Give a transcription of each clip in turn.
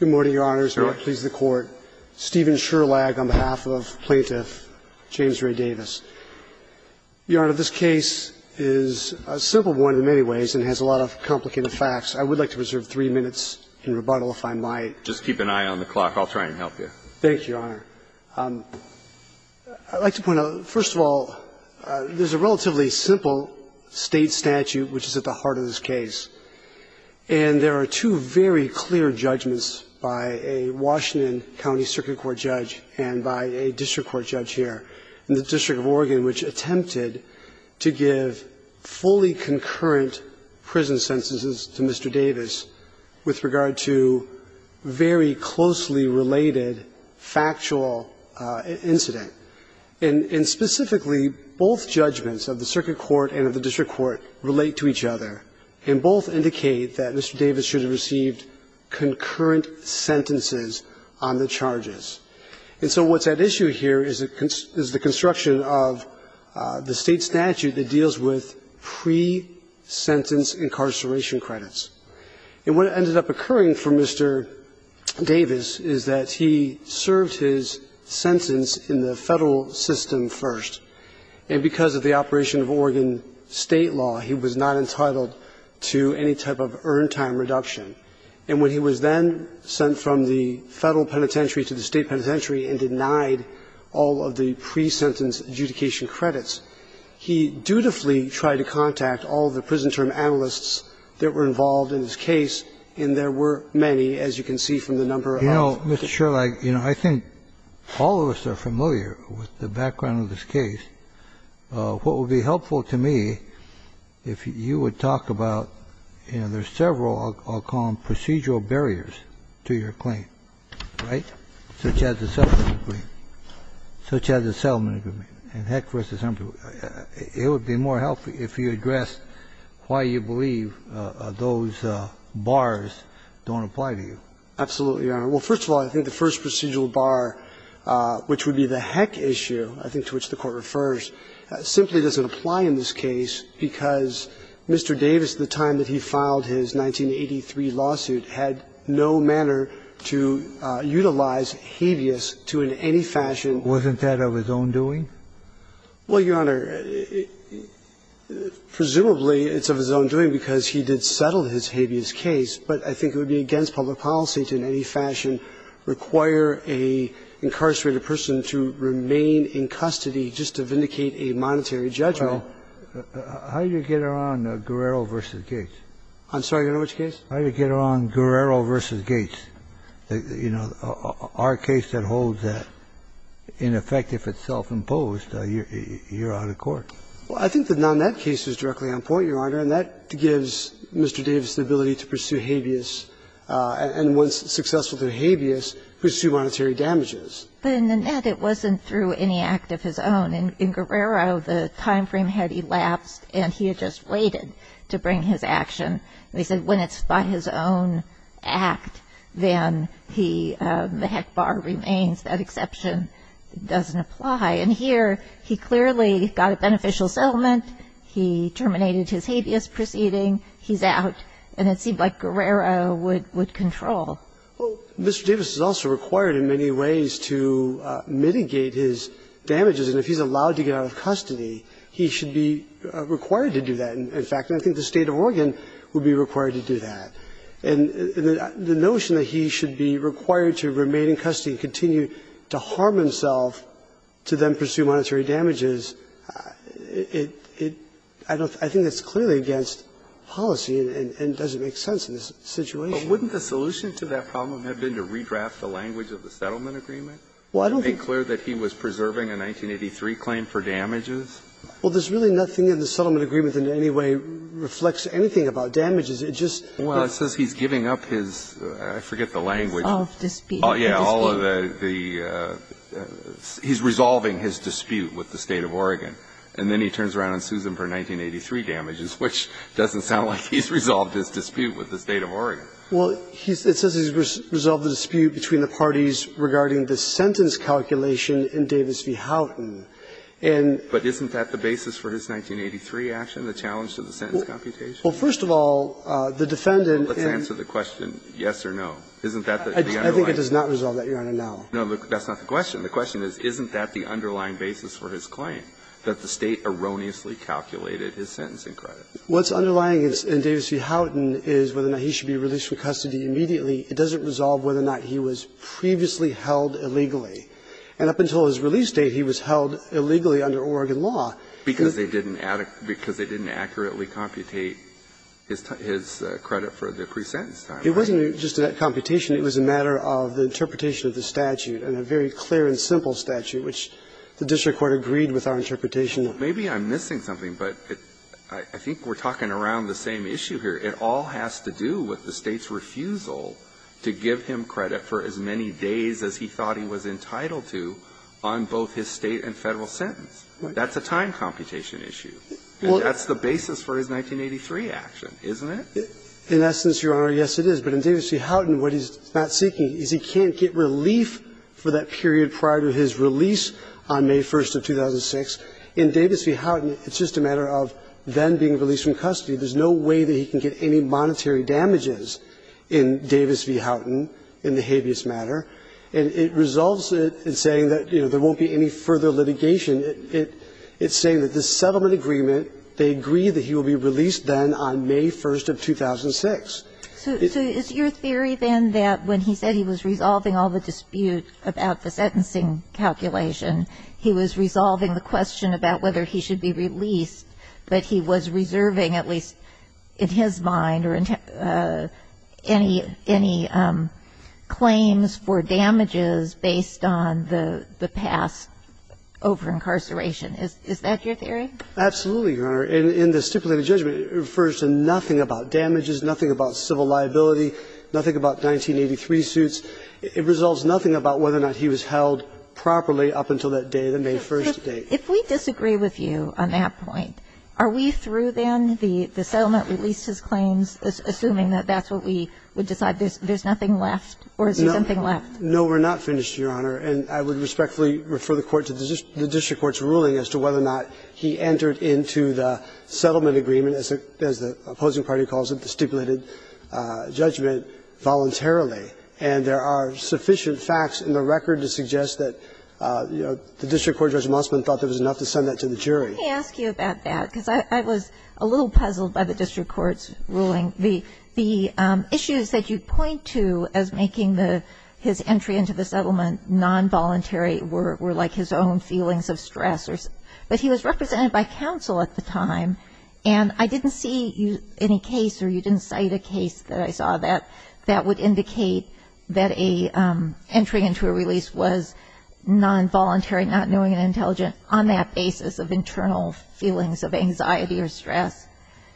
Good morning, Your Honors. May it please the Court. Stephen Sherlag on behalf of Plaintiff James Ray Davis. Your Honor, this case is a simple one in many ways and has a lot of complicated facts. I would like to reserve three minutes in rebuttal if I might. Just keep an eye on the clock. I'll try and help you. Thank you, Your Honor. I'd like to point out, first of all, there's a relatively simple State statute which is at the heart of this case. And there are two very clear judgments by a Washington County Circuit Court judge and by a district court judge here in the District of Oregon which attempted to give fully concurrent prison sentences to Mr. Davis with regard to very closely related factual incident. And specifically, both judgments of the Circuit Court and of the District Court relate to each other. And both indicate that Mr. Davis should have received concurrent sentences on the charges. And so what's at issue here is the construction of the State statute that deals with pre-sentence incarceration credits. And what ended up occurring for Mr. Davis is that he served his sentence in the Federal system first. And because of the operation of Oregon State law, he was not entitled to any type of earned time reduction. And when he was then sent from the Federal penitentiary to the State penitentiary and denied all of the pre-sentence adjudication credits, he dutifully tried to contact all of the prison term analysts that were involved in his case, and there were many, as you can see from the number of cases. I'm sure, like, you know, I think all of us are familiar with the background of this case. What would be helpful to me, if you would talk about, you know, there's several, I'll call them procedural barriers to your claim, right, such as the settlement agreement, such as the settlement agreement, and heck, versus something, it would be more helpful if you addressed why you believe those bars don't apply to you. Absolutely, Your Honor. Well, first of all, I think the first procedural bar, which would be the heck issue, I think to which the Court refers, simply doesn't apply in this case because Mr. Davis, at the time that he filed his 1983 lawsuit, had no manner to utilize habeas to in any fashion. Wasn't that of his own doing? Well, Your Honor, presumably it's of his own doing because he did settle his habeas case, but I think it would be against public policy to in any fashion require an incarcerated person to remain in custody just to vindicate a monetary judgment. Well, how do you get around Guerrero v. Gates? I'm sorry, Your Honor, which case? How do you get around Guerrero v. Gates? You know, our case that holds that, in effect, if it's self-imposed, you're out of court. Well, I think the nonet case is directly on point, Your Honor, and that gives Mr. Davis the ability to pursue habeas and, once successful to habeas, pursue monetary damages. But in the net, it wasn't through any act of his own. In Guerrero, the time frame had elapsed and he had just waited to bring his action. They said when it's by his own act, then he – the heck bar remains. That exception doesn't apply. And here, he clearly got a beneficial settlement. He terminated his habeas proceeding. He's out, and it seemed like Guerrero would control. Well, Mr. Davis is also required in many ways to mitigate his damages. And if he's allowed to get out of custody, he should be required to do that, in fact. And I think the State of Oregon would be required to do that. And the notion that he should be required to remain in custody and continue to harm himself to then pursue monetary damages, it – I don't – I think that's clearly against policy and doesn't make sense in this situation. But wouldn't the solution to that problem have been to redraft the language of the settlement agreement? Well, I don't think so. To make clear that he was preserving a 1983 claim for damages? Well, there's really nothing in the settlement agreement in any way reflects anything about damages. It just – Well, it says he's giving up his – I forget the language. All of the dispute. Yeah, all of the – he's resolving his dispute with the State of Oregon. And then he turns around and sues them for 1983 damages, which doesn't sound like he's resolved his dispute with the State of Oregon. Well, he's – it says he's resolved the dispute between the parties regarding the sentence calculation in Davis v. Houghton. And – But isn't that the basis for his 1983 action, the challenge to the sentence computation? Well, first of all, the defendant in – Well, let's answer the question yes or no. Isn't that the underlying – I think it does not resolve that, Your Honor, now. No, that's not the question. The question is, isn't that the underlying basis for his claim? That the State erroneously calculated his sentencing credit. What's underlying in Davis v. Houghton is whether or not he should be released from custody immediately. It doesn't resolve whether or not he was previously held illegally. And up until his release date, he was held illegally under Oregon law. Because they didn't – because they didn't accurately computate his credit for the pre-sentence time. It wasn't just that computation. And then there's the issue of the State's refusal to give him credit for as many days as he thought he was entitled to on his federal and state sentences. And that's a time computation issue. And that's the basis for his 1983 action, isn't it? In essence, Your Honor, yes it is. But in Davis v. Houghton, what he's not seeking is he can't get relief for that period prior to his release. And he's not seeking relief for that period prior to his release on May 1st of 2006. In Davis v. Houghton, it's just a matter of then being released from custody. There's no way that he can get any monetary damages in Davis v. Houghton in the habeas matter. And it resolves it in saying that, you know, there won't be any further litigation. It's saying that the settlement agreement, they agree that he will be released then on May 1st of 2006. So is your theory then that when he said he was resolving all the dispute about the sentencing calculation, he was resolving the question about whether he should be released, but he was reserving at least in his mind or any claims for damages based on the past over-incarceration? Absolutely, Your Honor. In the stipulated judgment, it refers to nothing about damages, nothing about civil liability, nothing about 1983 suits. It resolves nothing about whether or not he was held properly up until that day, the May 1st date. If we disagree with you on that point, are we through then? The settlement released his claims, assuming that that's what we would decide. There's nothing left, or is there something left? No, we're not finished, Your Honor. And I would respectfully refer the Court to the district court's ruling as to whether or not he entered into the settlement agreement, as the opposing party calls it, the stipulated judgment, voluntarily. And there are sufficient facts in the record to suggest that, you know, the district court, Judge Mossman, thought there was enough to send that to the jury. Can I ask you about that? Because I was a little puzzled by the district court's ruling. The issues that you point to as making his entry into the settlement nonvoluntary were like his own feelings of stress. But he was represented by counsel at the time, and I didn't see any case or you didn't cite a case that I saw that would indicate that an entry into a release was nonvoluntary, not knowing and intelligent, on that basis of internal feelings of anxiety or stress.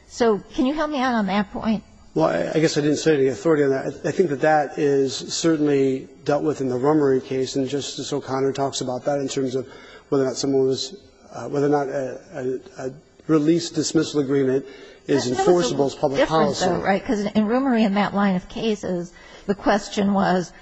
So can you help me out on that point? Well, I guess I didn't say the authority on that. I think that that is certainly dealt with in the Rummery case, and Justice O'Connor talks about that in terms of whether or not someone was – whether or not a release-dismissal agreement is enforceable as public policy. That was a little different, though, right, because in Rummery and that line of cases, the question was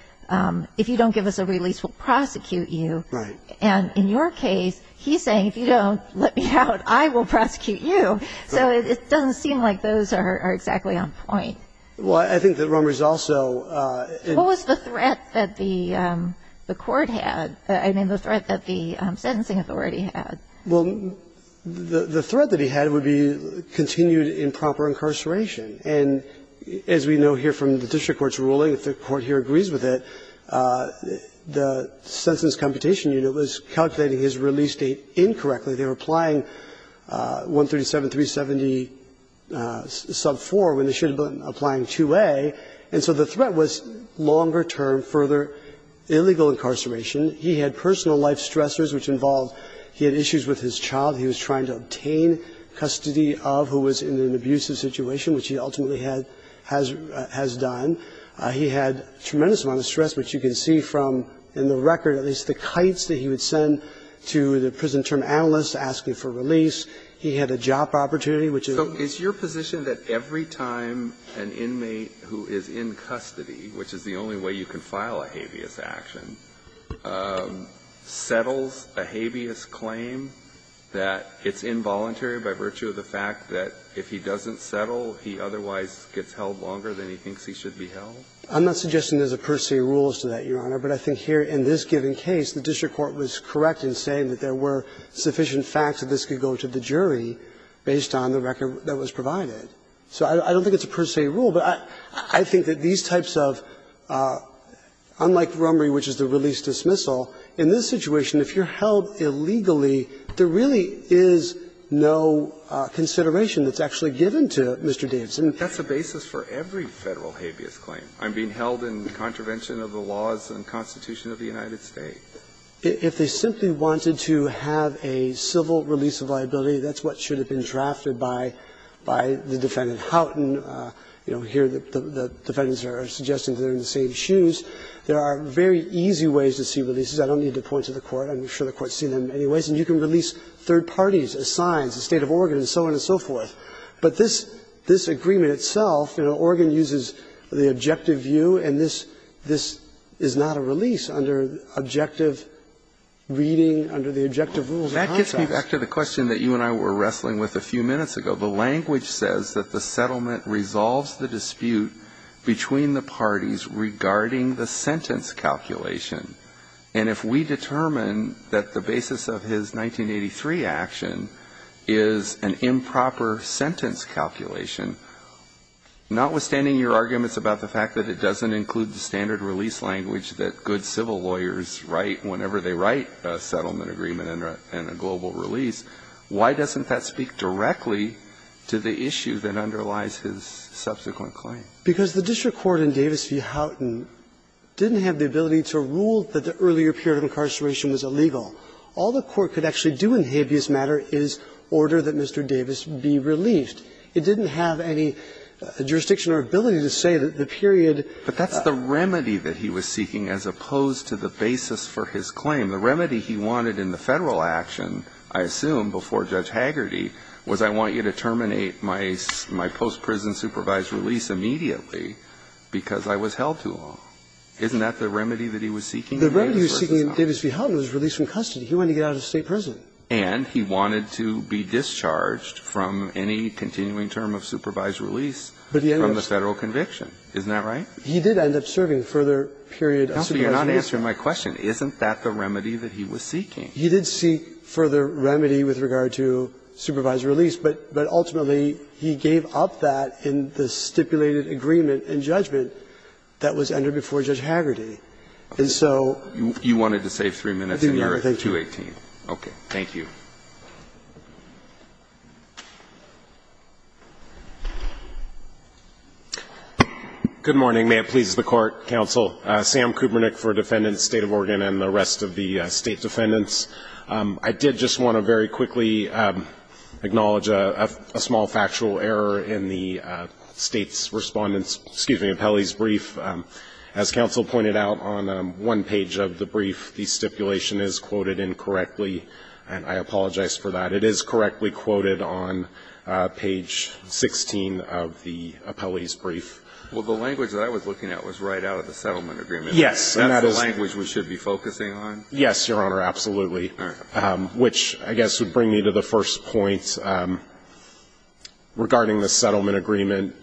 if you don't give us a release, we'll prosecute you. Right. And in your case, he's saying if you don't let me out, I will prosecute you. So it doesn't seem like those are exactly on point. Well, I think that Rummery's also – What was the threat that the court had, I mean, the threat that the sentencing authority had? Well, the threat that he had would be continued improper incarceration. And as we know here from the district court's ruling, if the court here agrees with it, the Sentence Computation Unit was calculating his release date incorrectly. They were applying 137,370, sub 4, when they should have been applying 2A. And so the threat was longer-term, further illegal incarceration. He had personal life stressors, which involved – he had issues with his child he was trying to obtain custody of, who was in an abusive situation, which he ultimately had – has done. He had a tremendous amount of stress, which you can see from, in the record, at least the kites that he would send to the prison term analysts asking for release. He had a job opportunity, which is – So is your position that every time an inmate who is in custody, which is the only way you can file a habeas action, settles a habeas claim, that it's involuntary by virtue of the fact that if he doesn't settle, he otherwise gets held longer than he thinks he should be held? I'm not suggesting there's a per se rule as to that, Your Honor. But I think here in this given case, the district court was correct in saying that there were sufficient facts that this could go to the jury based on the record that was provided. So I don't think it's a per se rule, but I think that these types of – unlike Rummery, which is the release-dismissal, in this situation, if you're held illegally, there really is no consideration that's actually given to Mr. Davidson. That's a basis for every Federal habeas claim. I'm being held in contravention of the laws and constitution of the United States. If they simply wanted to have a civil release of liability, that's what should have been drafted by the defendant. Houghton, you know, here the defendants are suggesting they're in the same shoes. There are very easy ways to see releases. I don't need to point to the Court. I'm sure the Court's seen them in many ways. And you can release third parties, assigns, the State of Oregon and so on and so forth. But this agreement itself, you know, Oregon uses the objective view, and this is not a release under objective reading, under the objective rules of contrast. That gets me back to the question that you and I were wrestling with a few minutes ago. The language says that the settlement resolves the dispute between the parties regarding the sentence calculation. And if we determine that the basis of his 1983 action is an improper sentence calculation, notwithstanding your arguments about the fact that it doesn't include the standard release language that good civil lawyers write whenever they write a settlement agreement and a global release, why doesn't that speak directly to the issue that underlies his subsequent claim? Because the district court in Davis v. Houghton didn't have the ability to rule that the earlier period of incarceration was illegal. All the Court could actually do in habeas matter is order that Mr. Davis be relieved. It didn't have any jurisdiction or ability to say that the period that he was seeking as opposed to the basis for his claim. The remedy he wanted in the Federal action, I assume, before Judge Hagerty, was I want you to terminate my post-prison supervised release immediately because I was held too long. Isn't that the remedy that he was seeking in Davis v. Houghton? The remedy he was seeking in Davis v. Houghton was release from custody. He wanted to get out of state prison. And he wanted to be discharged from any continuing term of supervised release from the Federal conviction. Isn't that right? He did end up serving a further period of supervised release. Counsel, you're not answering my question. Isn't that the remedy that he was seeking? He did seek further remedy with regard to supervised release, but ultimately he gave up that in the stipulated agreement and judgment that was entered before Judge Hagerty. And so you wanted to save 3 minutes and you're at 2.18. Okay. Thank you. Good morning. May it please the Court, Counsel. Sam Kubernick for Defendant, State of Oregon, and the rest of the State defendants. I did just want to very quickly acknowledge a small factual error in the State's Respondent's, excuse me, Appellee's brief. As Counsel pointed out on one page of the brief, the stipulation is quoted incorrectly. And I apologize for that. Well, the language that I was looking at was right out of the settlement agreement. Yes. And that's the language we should be focusing on? Yes, Your Honor, absolutely. All right. Which I guess would bring me to the first point regarding the settlement agreement.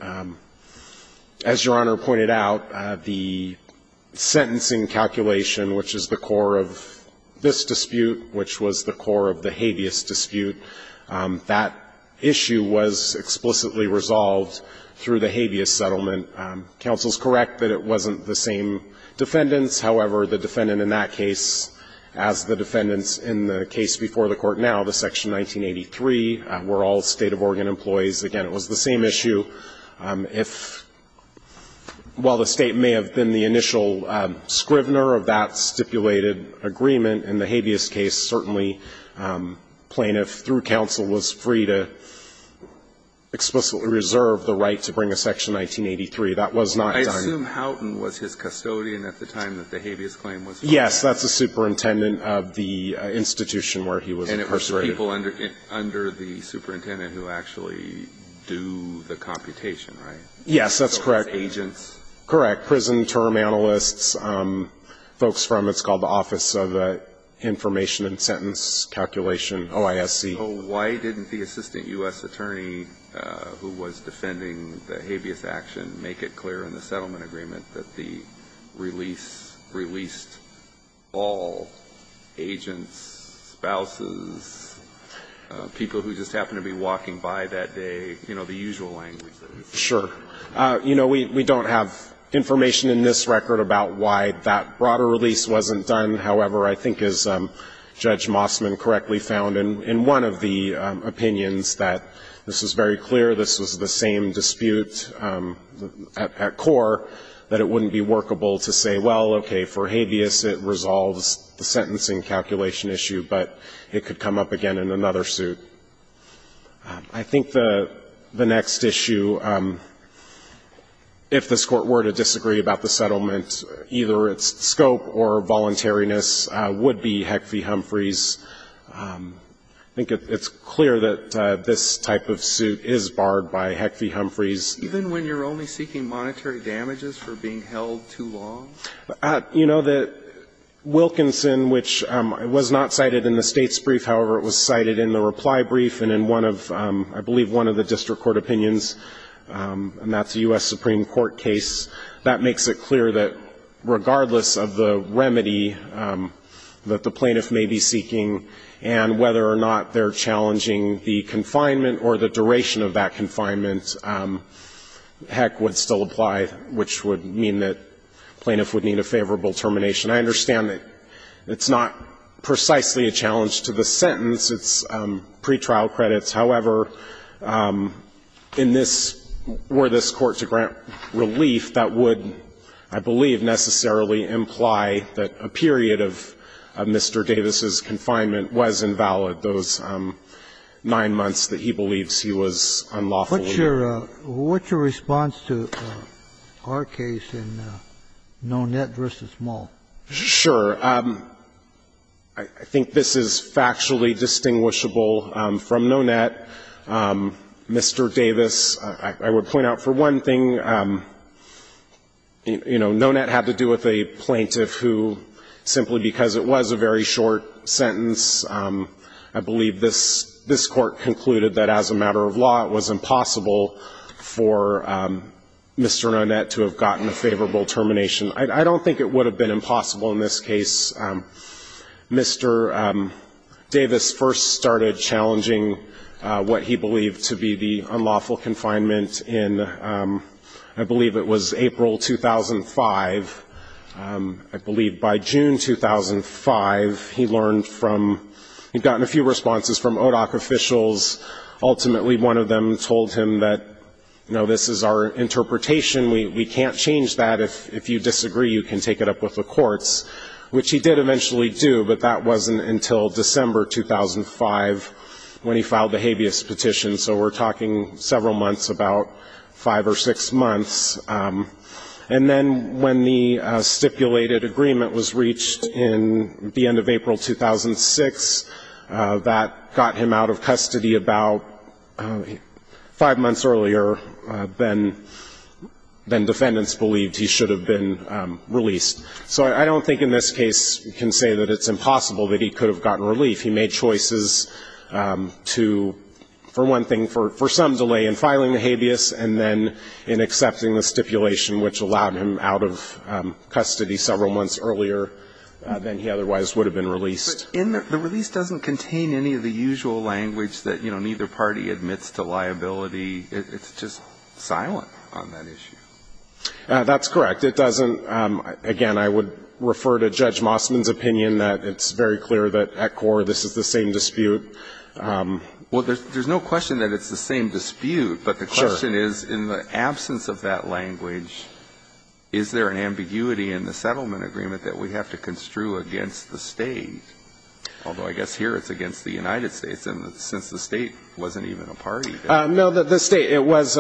As Your Honor pointed out, the sentencing calculation, which is the core of this dispute, which was the core of the habeas dispute, that issue was explicitly resolved through the habeas settlement. Counsel is correct that it wasn't the same defendants. However, the defendant in that case, as the defendants in the case before the Court now, the Section 1983, were all State of Oregon employees. Again, it was the same issue. If the State may have been the initial scrivener of that stipulated agreement, in the habeas case, certainly plaintiff through counsel was free to explicitly reserve the right to bring a Section 1983. That was not done. I assume Houghton was his custodian at the time that the habeas claim was filed? Yes, that's the superintendent of the institution where he was incarcerated. And it was people under the superintendent who actually do the computation, right? Yes, that's correct. So it was agents? Correct. Prison term analysts, folks from what's called the Office of Information and Sentence Calculation, OISC. So why didn't the assistant U.S. attorney who was defending the habeas action make it clear in the settlement agreement that the release released all agents, spouses, people who just happened to be walking by that day, you know, the usual language? Sure. You know, we don't have information in this record about why that broader release wasn't done. However, I think as Judge Mossman correctly found in one of the opinions that this was very clear, this was the same dispute at core, that it wouldn't be workable to say, well, okay, for habeas it resolves the sentencing calculation issue, but it could come up again in another suit. I think the next issue, if this Court were to disagree about the settlement, either its scope or voluntariness, would be Heck v. Humphreys. I think it's clear that this type of suit is barred by Heck v. Humphreys. Even when you're only seeking monetary damages for being held too long? You know that Wilkinson, which was not cited in the States brief, however, it was cited in the reply brief and in one of, I believe, one of the district court opinions, and that's a U.S. Supreme Court case, that makes it clear that regardless of the remedy that the plaintiff may be seeking and whether or not they're challenging the confinement or the duration of that confinement, Heck would still apply, which would mean that plaintiff would need a favorable termination. I understand that it's not precisely a challenge to the sentence. It's pretrial credits. However, in this, were this Court to grant relief, that would, I believe, necessarily imply that a period of Mr. Davis's confinement was invalid, those nine months that he believes he was unlawfully there. What's your response to our case in Nonet v. Malt? Sure. I think this is factually distinguishable from Nonet. Mr. Davis, I would point out for one thing, you know, Nonet had to do with a plaintiff who, simply because it was a very short sentence, I believe this Court concluded that as a matter of law, it was impossible for Mr. Nonet to have gotten a favorable termination. I don't think it would have been impossible in this case. Mr. Davis first started challenging what he believed to be the unlawful confinement in, I believe it was April 2005. I believe by June 2005, he learned from, he'd gotten a few responses from ODOC officials. Ultimately, one of them told him that, you know, this is our interpretation. We can't change that. If you disagree, you can take it up with the courts, which he did eventually do, but that wasn't until December 2005 when he filed the habeas petition. So we're talking several months, about five or six months. And then when the stipulated agreement was reached in the end of April 2006, that got him out of custody about five months earlier than defendants believed he should have been released. So I don't think in this case we can say that it's impossible that he could have gotten relief. He made choices to, for one thing, for some delay in filing the habeas, and then in accepting the stipulation which allowed him out of custody several months earlier than he otherwise would have been released. But in the release doesn't contain any of the usual language that, you know, neither party admits to liability. It's just silent on that issue. That's correct. It doesn't, again, I would refer to Judge Mossman's opinion that it's very clear that at core this is the same dispute. Well, there's no question that it's the same dispute, but the question is in the absence of that language, is there an ambiguity in the settlement agreement that we have to Although I guess here it's against the United States, and since the state wasn't even a party. No, the state, it was,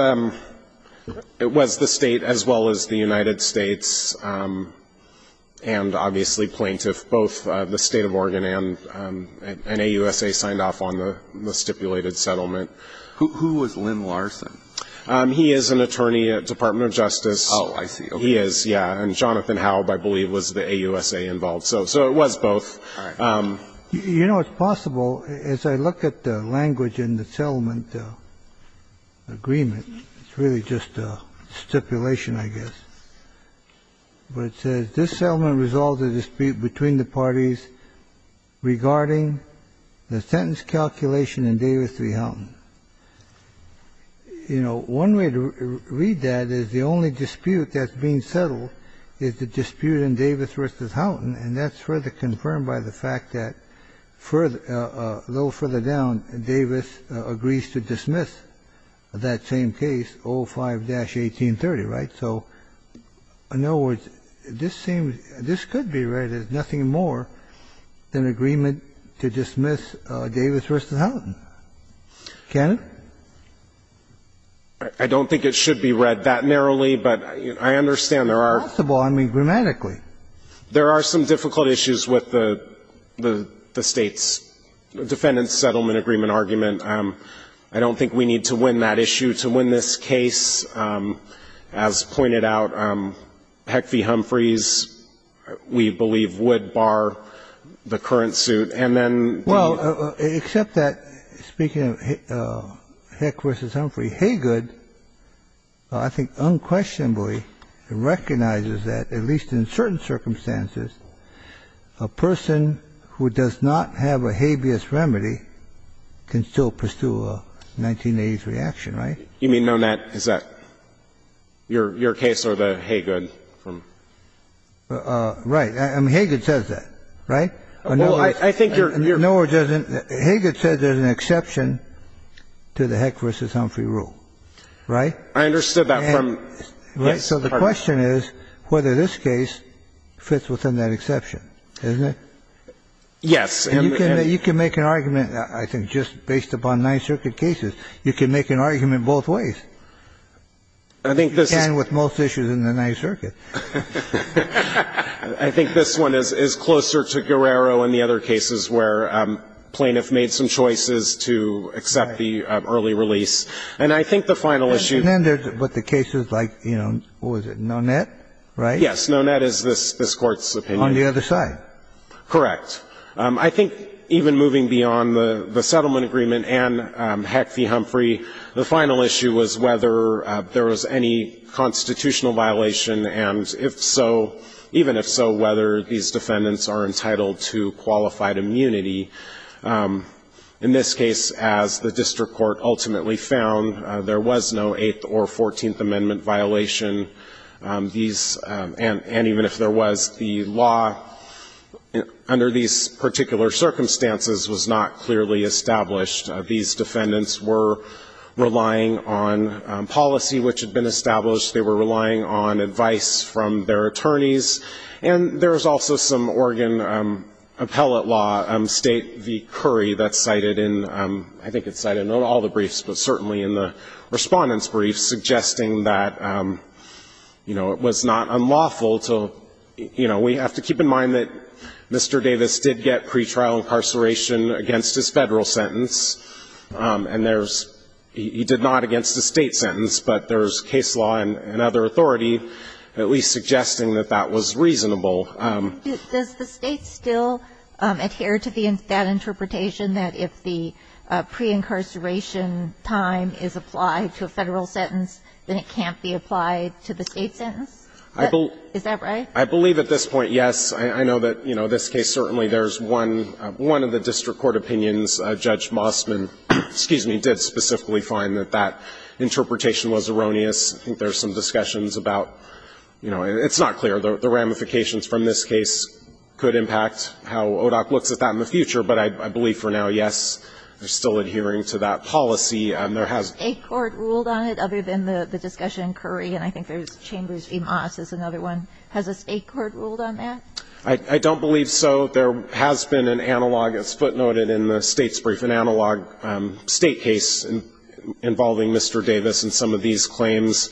it was the state as well as the United States, and obviously plaintiff, both the state of Oregon and AUSA signed off on the stipulated settlement. Who was Lynn Larson? He is an attorney at Department of Justice. Oh, I see. He is, yeah. And Jonathan Howe, I believe, was the AUSA involved. So it was both. You know, it's possible, as I look at the language in the settlement agreement, it's really just a stipulation, I guess. But it says, this settlement resolves a dispute between the parties regarding the sentence calculation in Davis v. Houghton. You know, one way to read that is the only dispute that's being settled is the dispute in Davis v. Houghton, and that's further confirmed by the fact that further, a little further down, Davis agrees to dismiss that same case, 05-1830, right? So in other words, this seems, this could be read as nothing more than agreement to dismiss Davis v. Houghton. Can it? I don't think it should be read that narrowly, but I understand there are There are some difficult issues with the State's Defendant's Settlement Agreement argument. I don't think we need to win that issue to win this case. As pointed out, Heck v. Humphreys, we believe, would bar the current suit. And then the Well, except that, speaking of Heck v. Humphreys, Haygood, I think, unquestionably recognizes that, at least in certain circumstances, a person who does not have a habeas remedy can still pursue a 1980s reaction, right? You mean known that, is that your case or the Haygood from Right. I mean, Haygood says that, right? Well, I think you're Haygood says there's an exception to the Heck v. Humphrey rule, right? I understood that from So the question is whether this case fits within that exception, isn't it? Yes. And you can make an argument, I think, just based upon Ninth Circuit cases. You can make an argument both ways. I think this is You can with most issues in the Ninth Circuit. I think this one is closer to Guerrero and the other cases where plaintiffs made some choices to accept the early release. And I think the final issue And then there's what the cases like, you know, what was it, Nonet, right? Yes. Nonet is this Court's opinion. On the other side. Correct. I think even moving beyond the settlement agreement and Heck v. Humphrey, the final issue was whether there was any constitutional violation, and if so, even if so, whether these defendants are entitled to qualified immunity. In this case, as the district court ultimately found, there was no 8th or 14th Amendment violation. These and even if there was, the law under these particular circumstances was not clearly established. These defendants were relying on policy which had been established. They were relying on advice from their attorneys. And there was also some Oregon appellate law, State v. Curry, that's cited in, I think it's cited in all the briefs, but certainly in the respondent's briefs, suggesting that, you know, it was not unlawful to, you know, we have to keep in mind that Mr. Davis did get pretrial incarceration against his federal sentence, and there's, he did not against a state sentence, but there's case law and other authority at least suggesting that that was unlawful. And that was reasonable. Ginsburg. Does the State still adhere to the, that interpretation that if the pre-incarceration time is applied to a federal sentence, then it can't be applied to the state sentence? Is that right? I believe at this point, yes. I know that, you know, in this case certainly there's one, one of the district court opinions, Judge Mossman, excuse me, did specifically find that that interpretation was erroneous. I think there's some discussions about, you know, it's not clear. The ramifications from this case could impact how ODOC looks at that in the future, but I believe for now, yes, they're still adhering to that policy. And there has been a court ruled on it other than the discussion in Curry, and I think there's Chambers v. Moss is another one. Has a state court ruled on that? I don't believe so. There has been an analog, as footnoted in the State's brief, an analog State case involving Mr. Davis and some of these claims.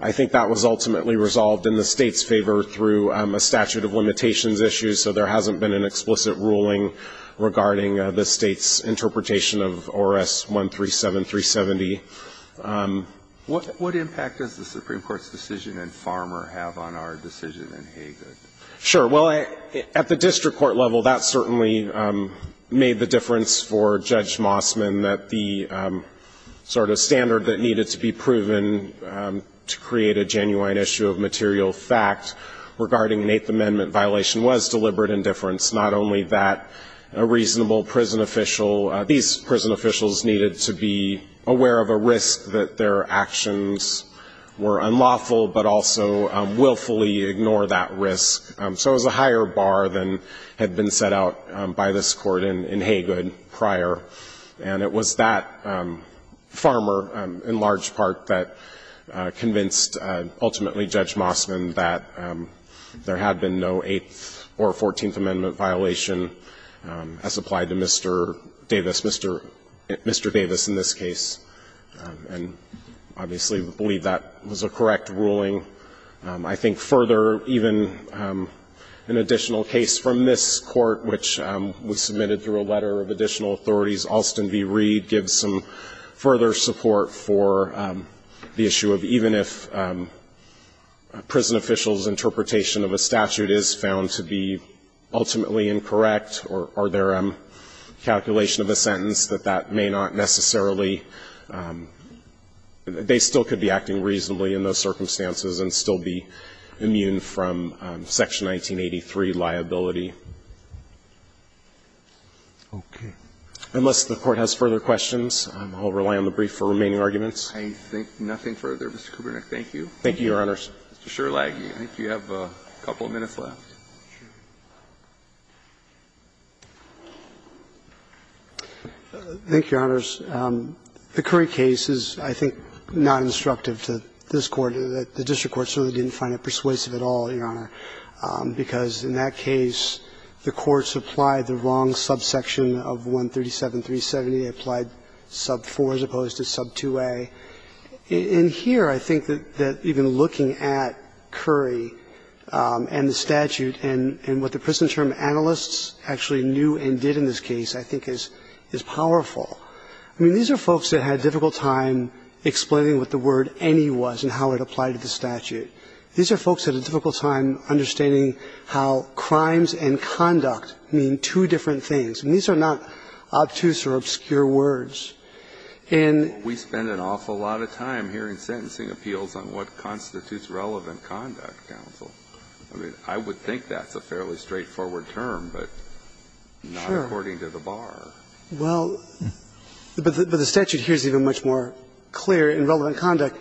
I think that was ultimately resolved in the State's favor through a statute of limitations issue, so there hasn't been an explicit ruling regarding the State's interpretation of ORS 137-370. What impact does the Supreme Court's decision in Farmer have on our decision in Hagin? Sure, well, at the district court level, that certainly made the difference for Judge Mossman, that the sort of standard that needed to be proven to create a genuine issue of material fact regarding an Eighth Amendment violation was deliberate indifference. Not only that a reasonable prison official, these prison officials needed to be aware of a risk that their actions were unlawful, but also willfully ignore that risk. So it was a higher bar than had been set out by this Court in Hagin prior, and it was that Farmer in large part that convinced ultimately Judge Mossman that there had been no Eighth or Fourteenth Amendment violation as applied to Mr. Davis, Mr. Davis in this case. And obviously we believe that was a correct ruling. I think further, even an additional case from this Court, which was submitted through a letter of additional authorities. Alston v. Reed gives some further support for the issue of even if a prison official's interpretation of a statute is found to be ultimately incorrect, or their calculation of a sentence, that that may not necessarily, they still could be acting reasonably in those circumstances and still be immune from Section 1983 liability. Unless the Court has further questions, I'll rely on the brief for remaining arguments. I think nothing further. Mr. Kubernick, thank you. Thank you, Your Honors. Mr. Sherlagge, I think you have a couple of minutes left. Thank you, Your Honors. The Curry case is, I think, not instructive to this Court. The district court certainly didn't find it persuasive at all, Your Honor, because in that case the courts applied the wrong subsection of 137.370. They applied sub 4 as opposed to sub 2a. In here, I think that even looking at Curry and the statute and what the prison term analysts actually knew and did in this case, I think, is powerful. I mean, these are folks that had a difficult time explaining what the word any was and how it applied to the statute. These are folks that had a difficult time understanding how crimes and conduct mean two different things. And these are not obtuse or obscure words. And we spend an awful lot of time hearing sentencing appeals on what constitutes relevant conduct, counsel. I mean, I would think that's a fairly straightforward term, but not according to the bar. Well, but the statute here is even much more clear, and relevant conduct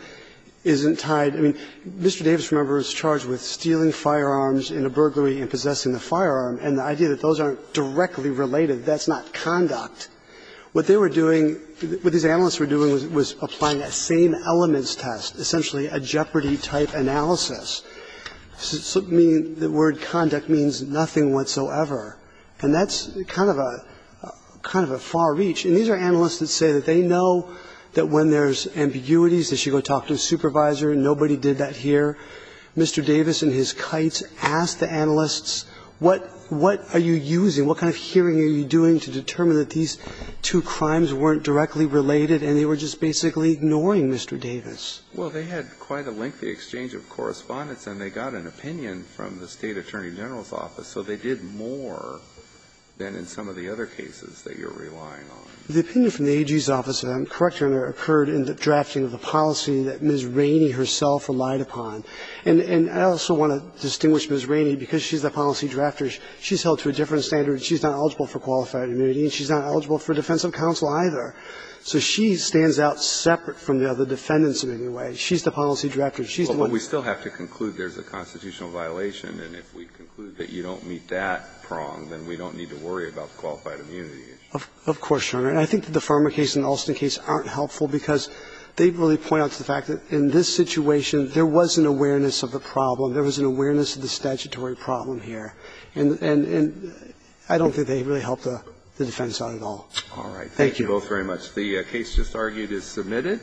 isn't tied. I mean, Mr. Davis, remember, is charged with stealing firearms in a burglary and possessing the firearm. And the idea that those aren't directly related, that's not conduct. What they were doing, what these analysts were doing was applying a same elements test, essentially a jeopardy type analysis. The word conduct means nothing whatsoever. And that's kind of a far reach. And these are analysts that say that they know that when there's ambiguities, they should go talk to a supervisor. Nobody did that here. Mr. Davis in his kites asked the analysts, what are you using, what kind of hearing are you doing to determine that these two crimes weren't directly related and they were just basically ignoring Mr. Davis? Well, they had quite a lengthy exchange of correspondence, and they got an opinion from the State Attorney General's office, so they did more than in some of the other cases that you're relying on. The opinion from the AG's office, and I'm correct, Your Honor, occurred in the drafting of the policy that Ms. Rainey herself relied upon. And I also want to distinguish Ms. Rainey because she's the policy drafter. She's held to a different standard. She's not eligible for qualified immunity, and she's not eligible for defensive counsel either. So she stands out separate from the other defendants in any way. She's the policy drafter. She's the one that's going to do it. But we still have to conclude there's a constitutional violation, and if we conclude that you don't meet that prong, then we don't need to worry about qualified immunity. Of course, Your Honor. And I think that the Farmer case and the Alston case aren't helpful because they really point out to the fact that in this situation, there was an awareness of the problem, there was an awareness of the statutory problem here. And I don't think they really help the defense on it at all. Thank you. Thank you both very much. The case just argued is submitted.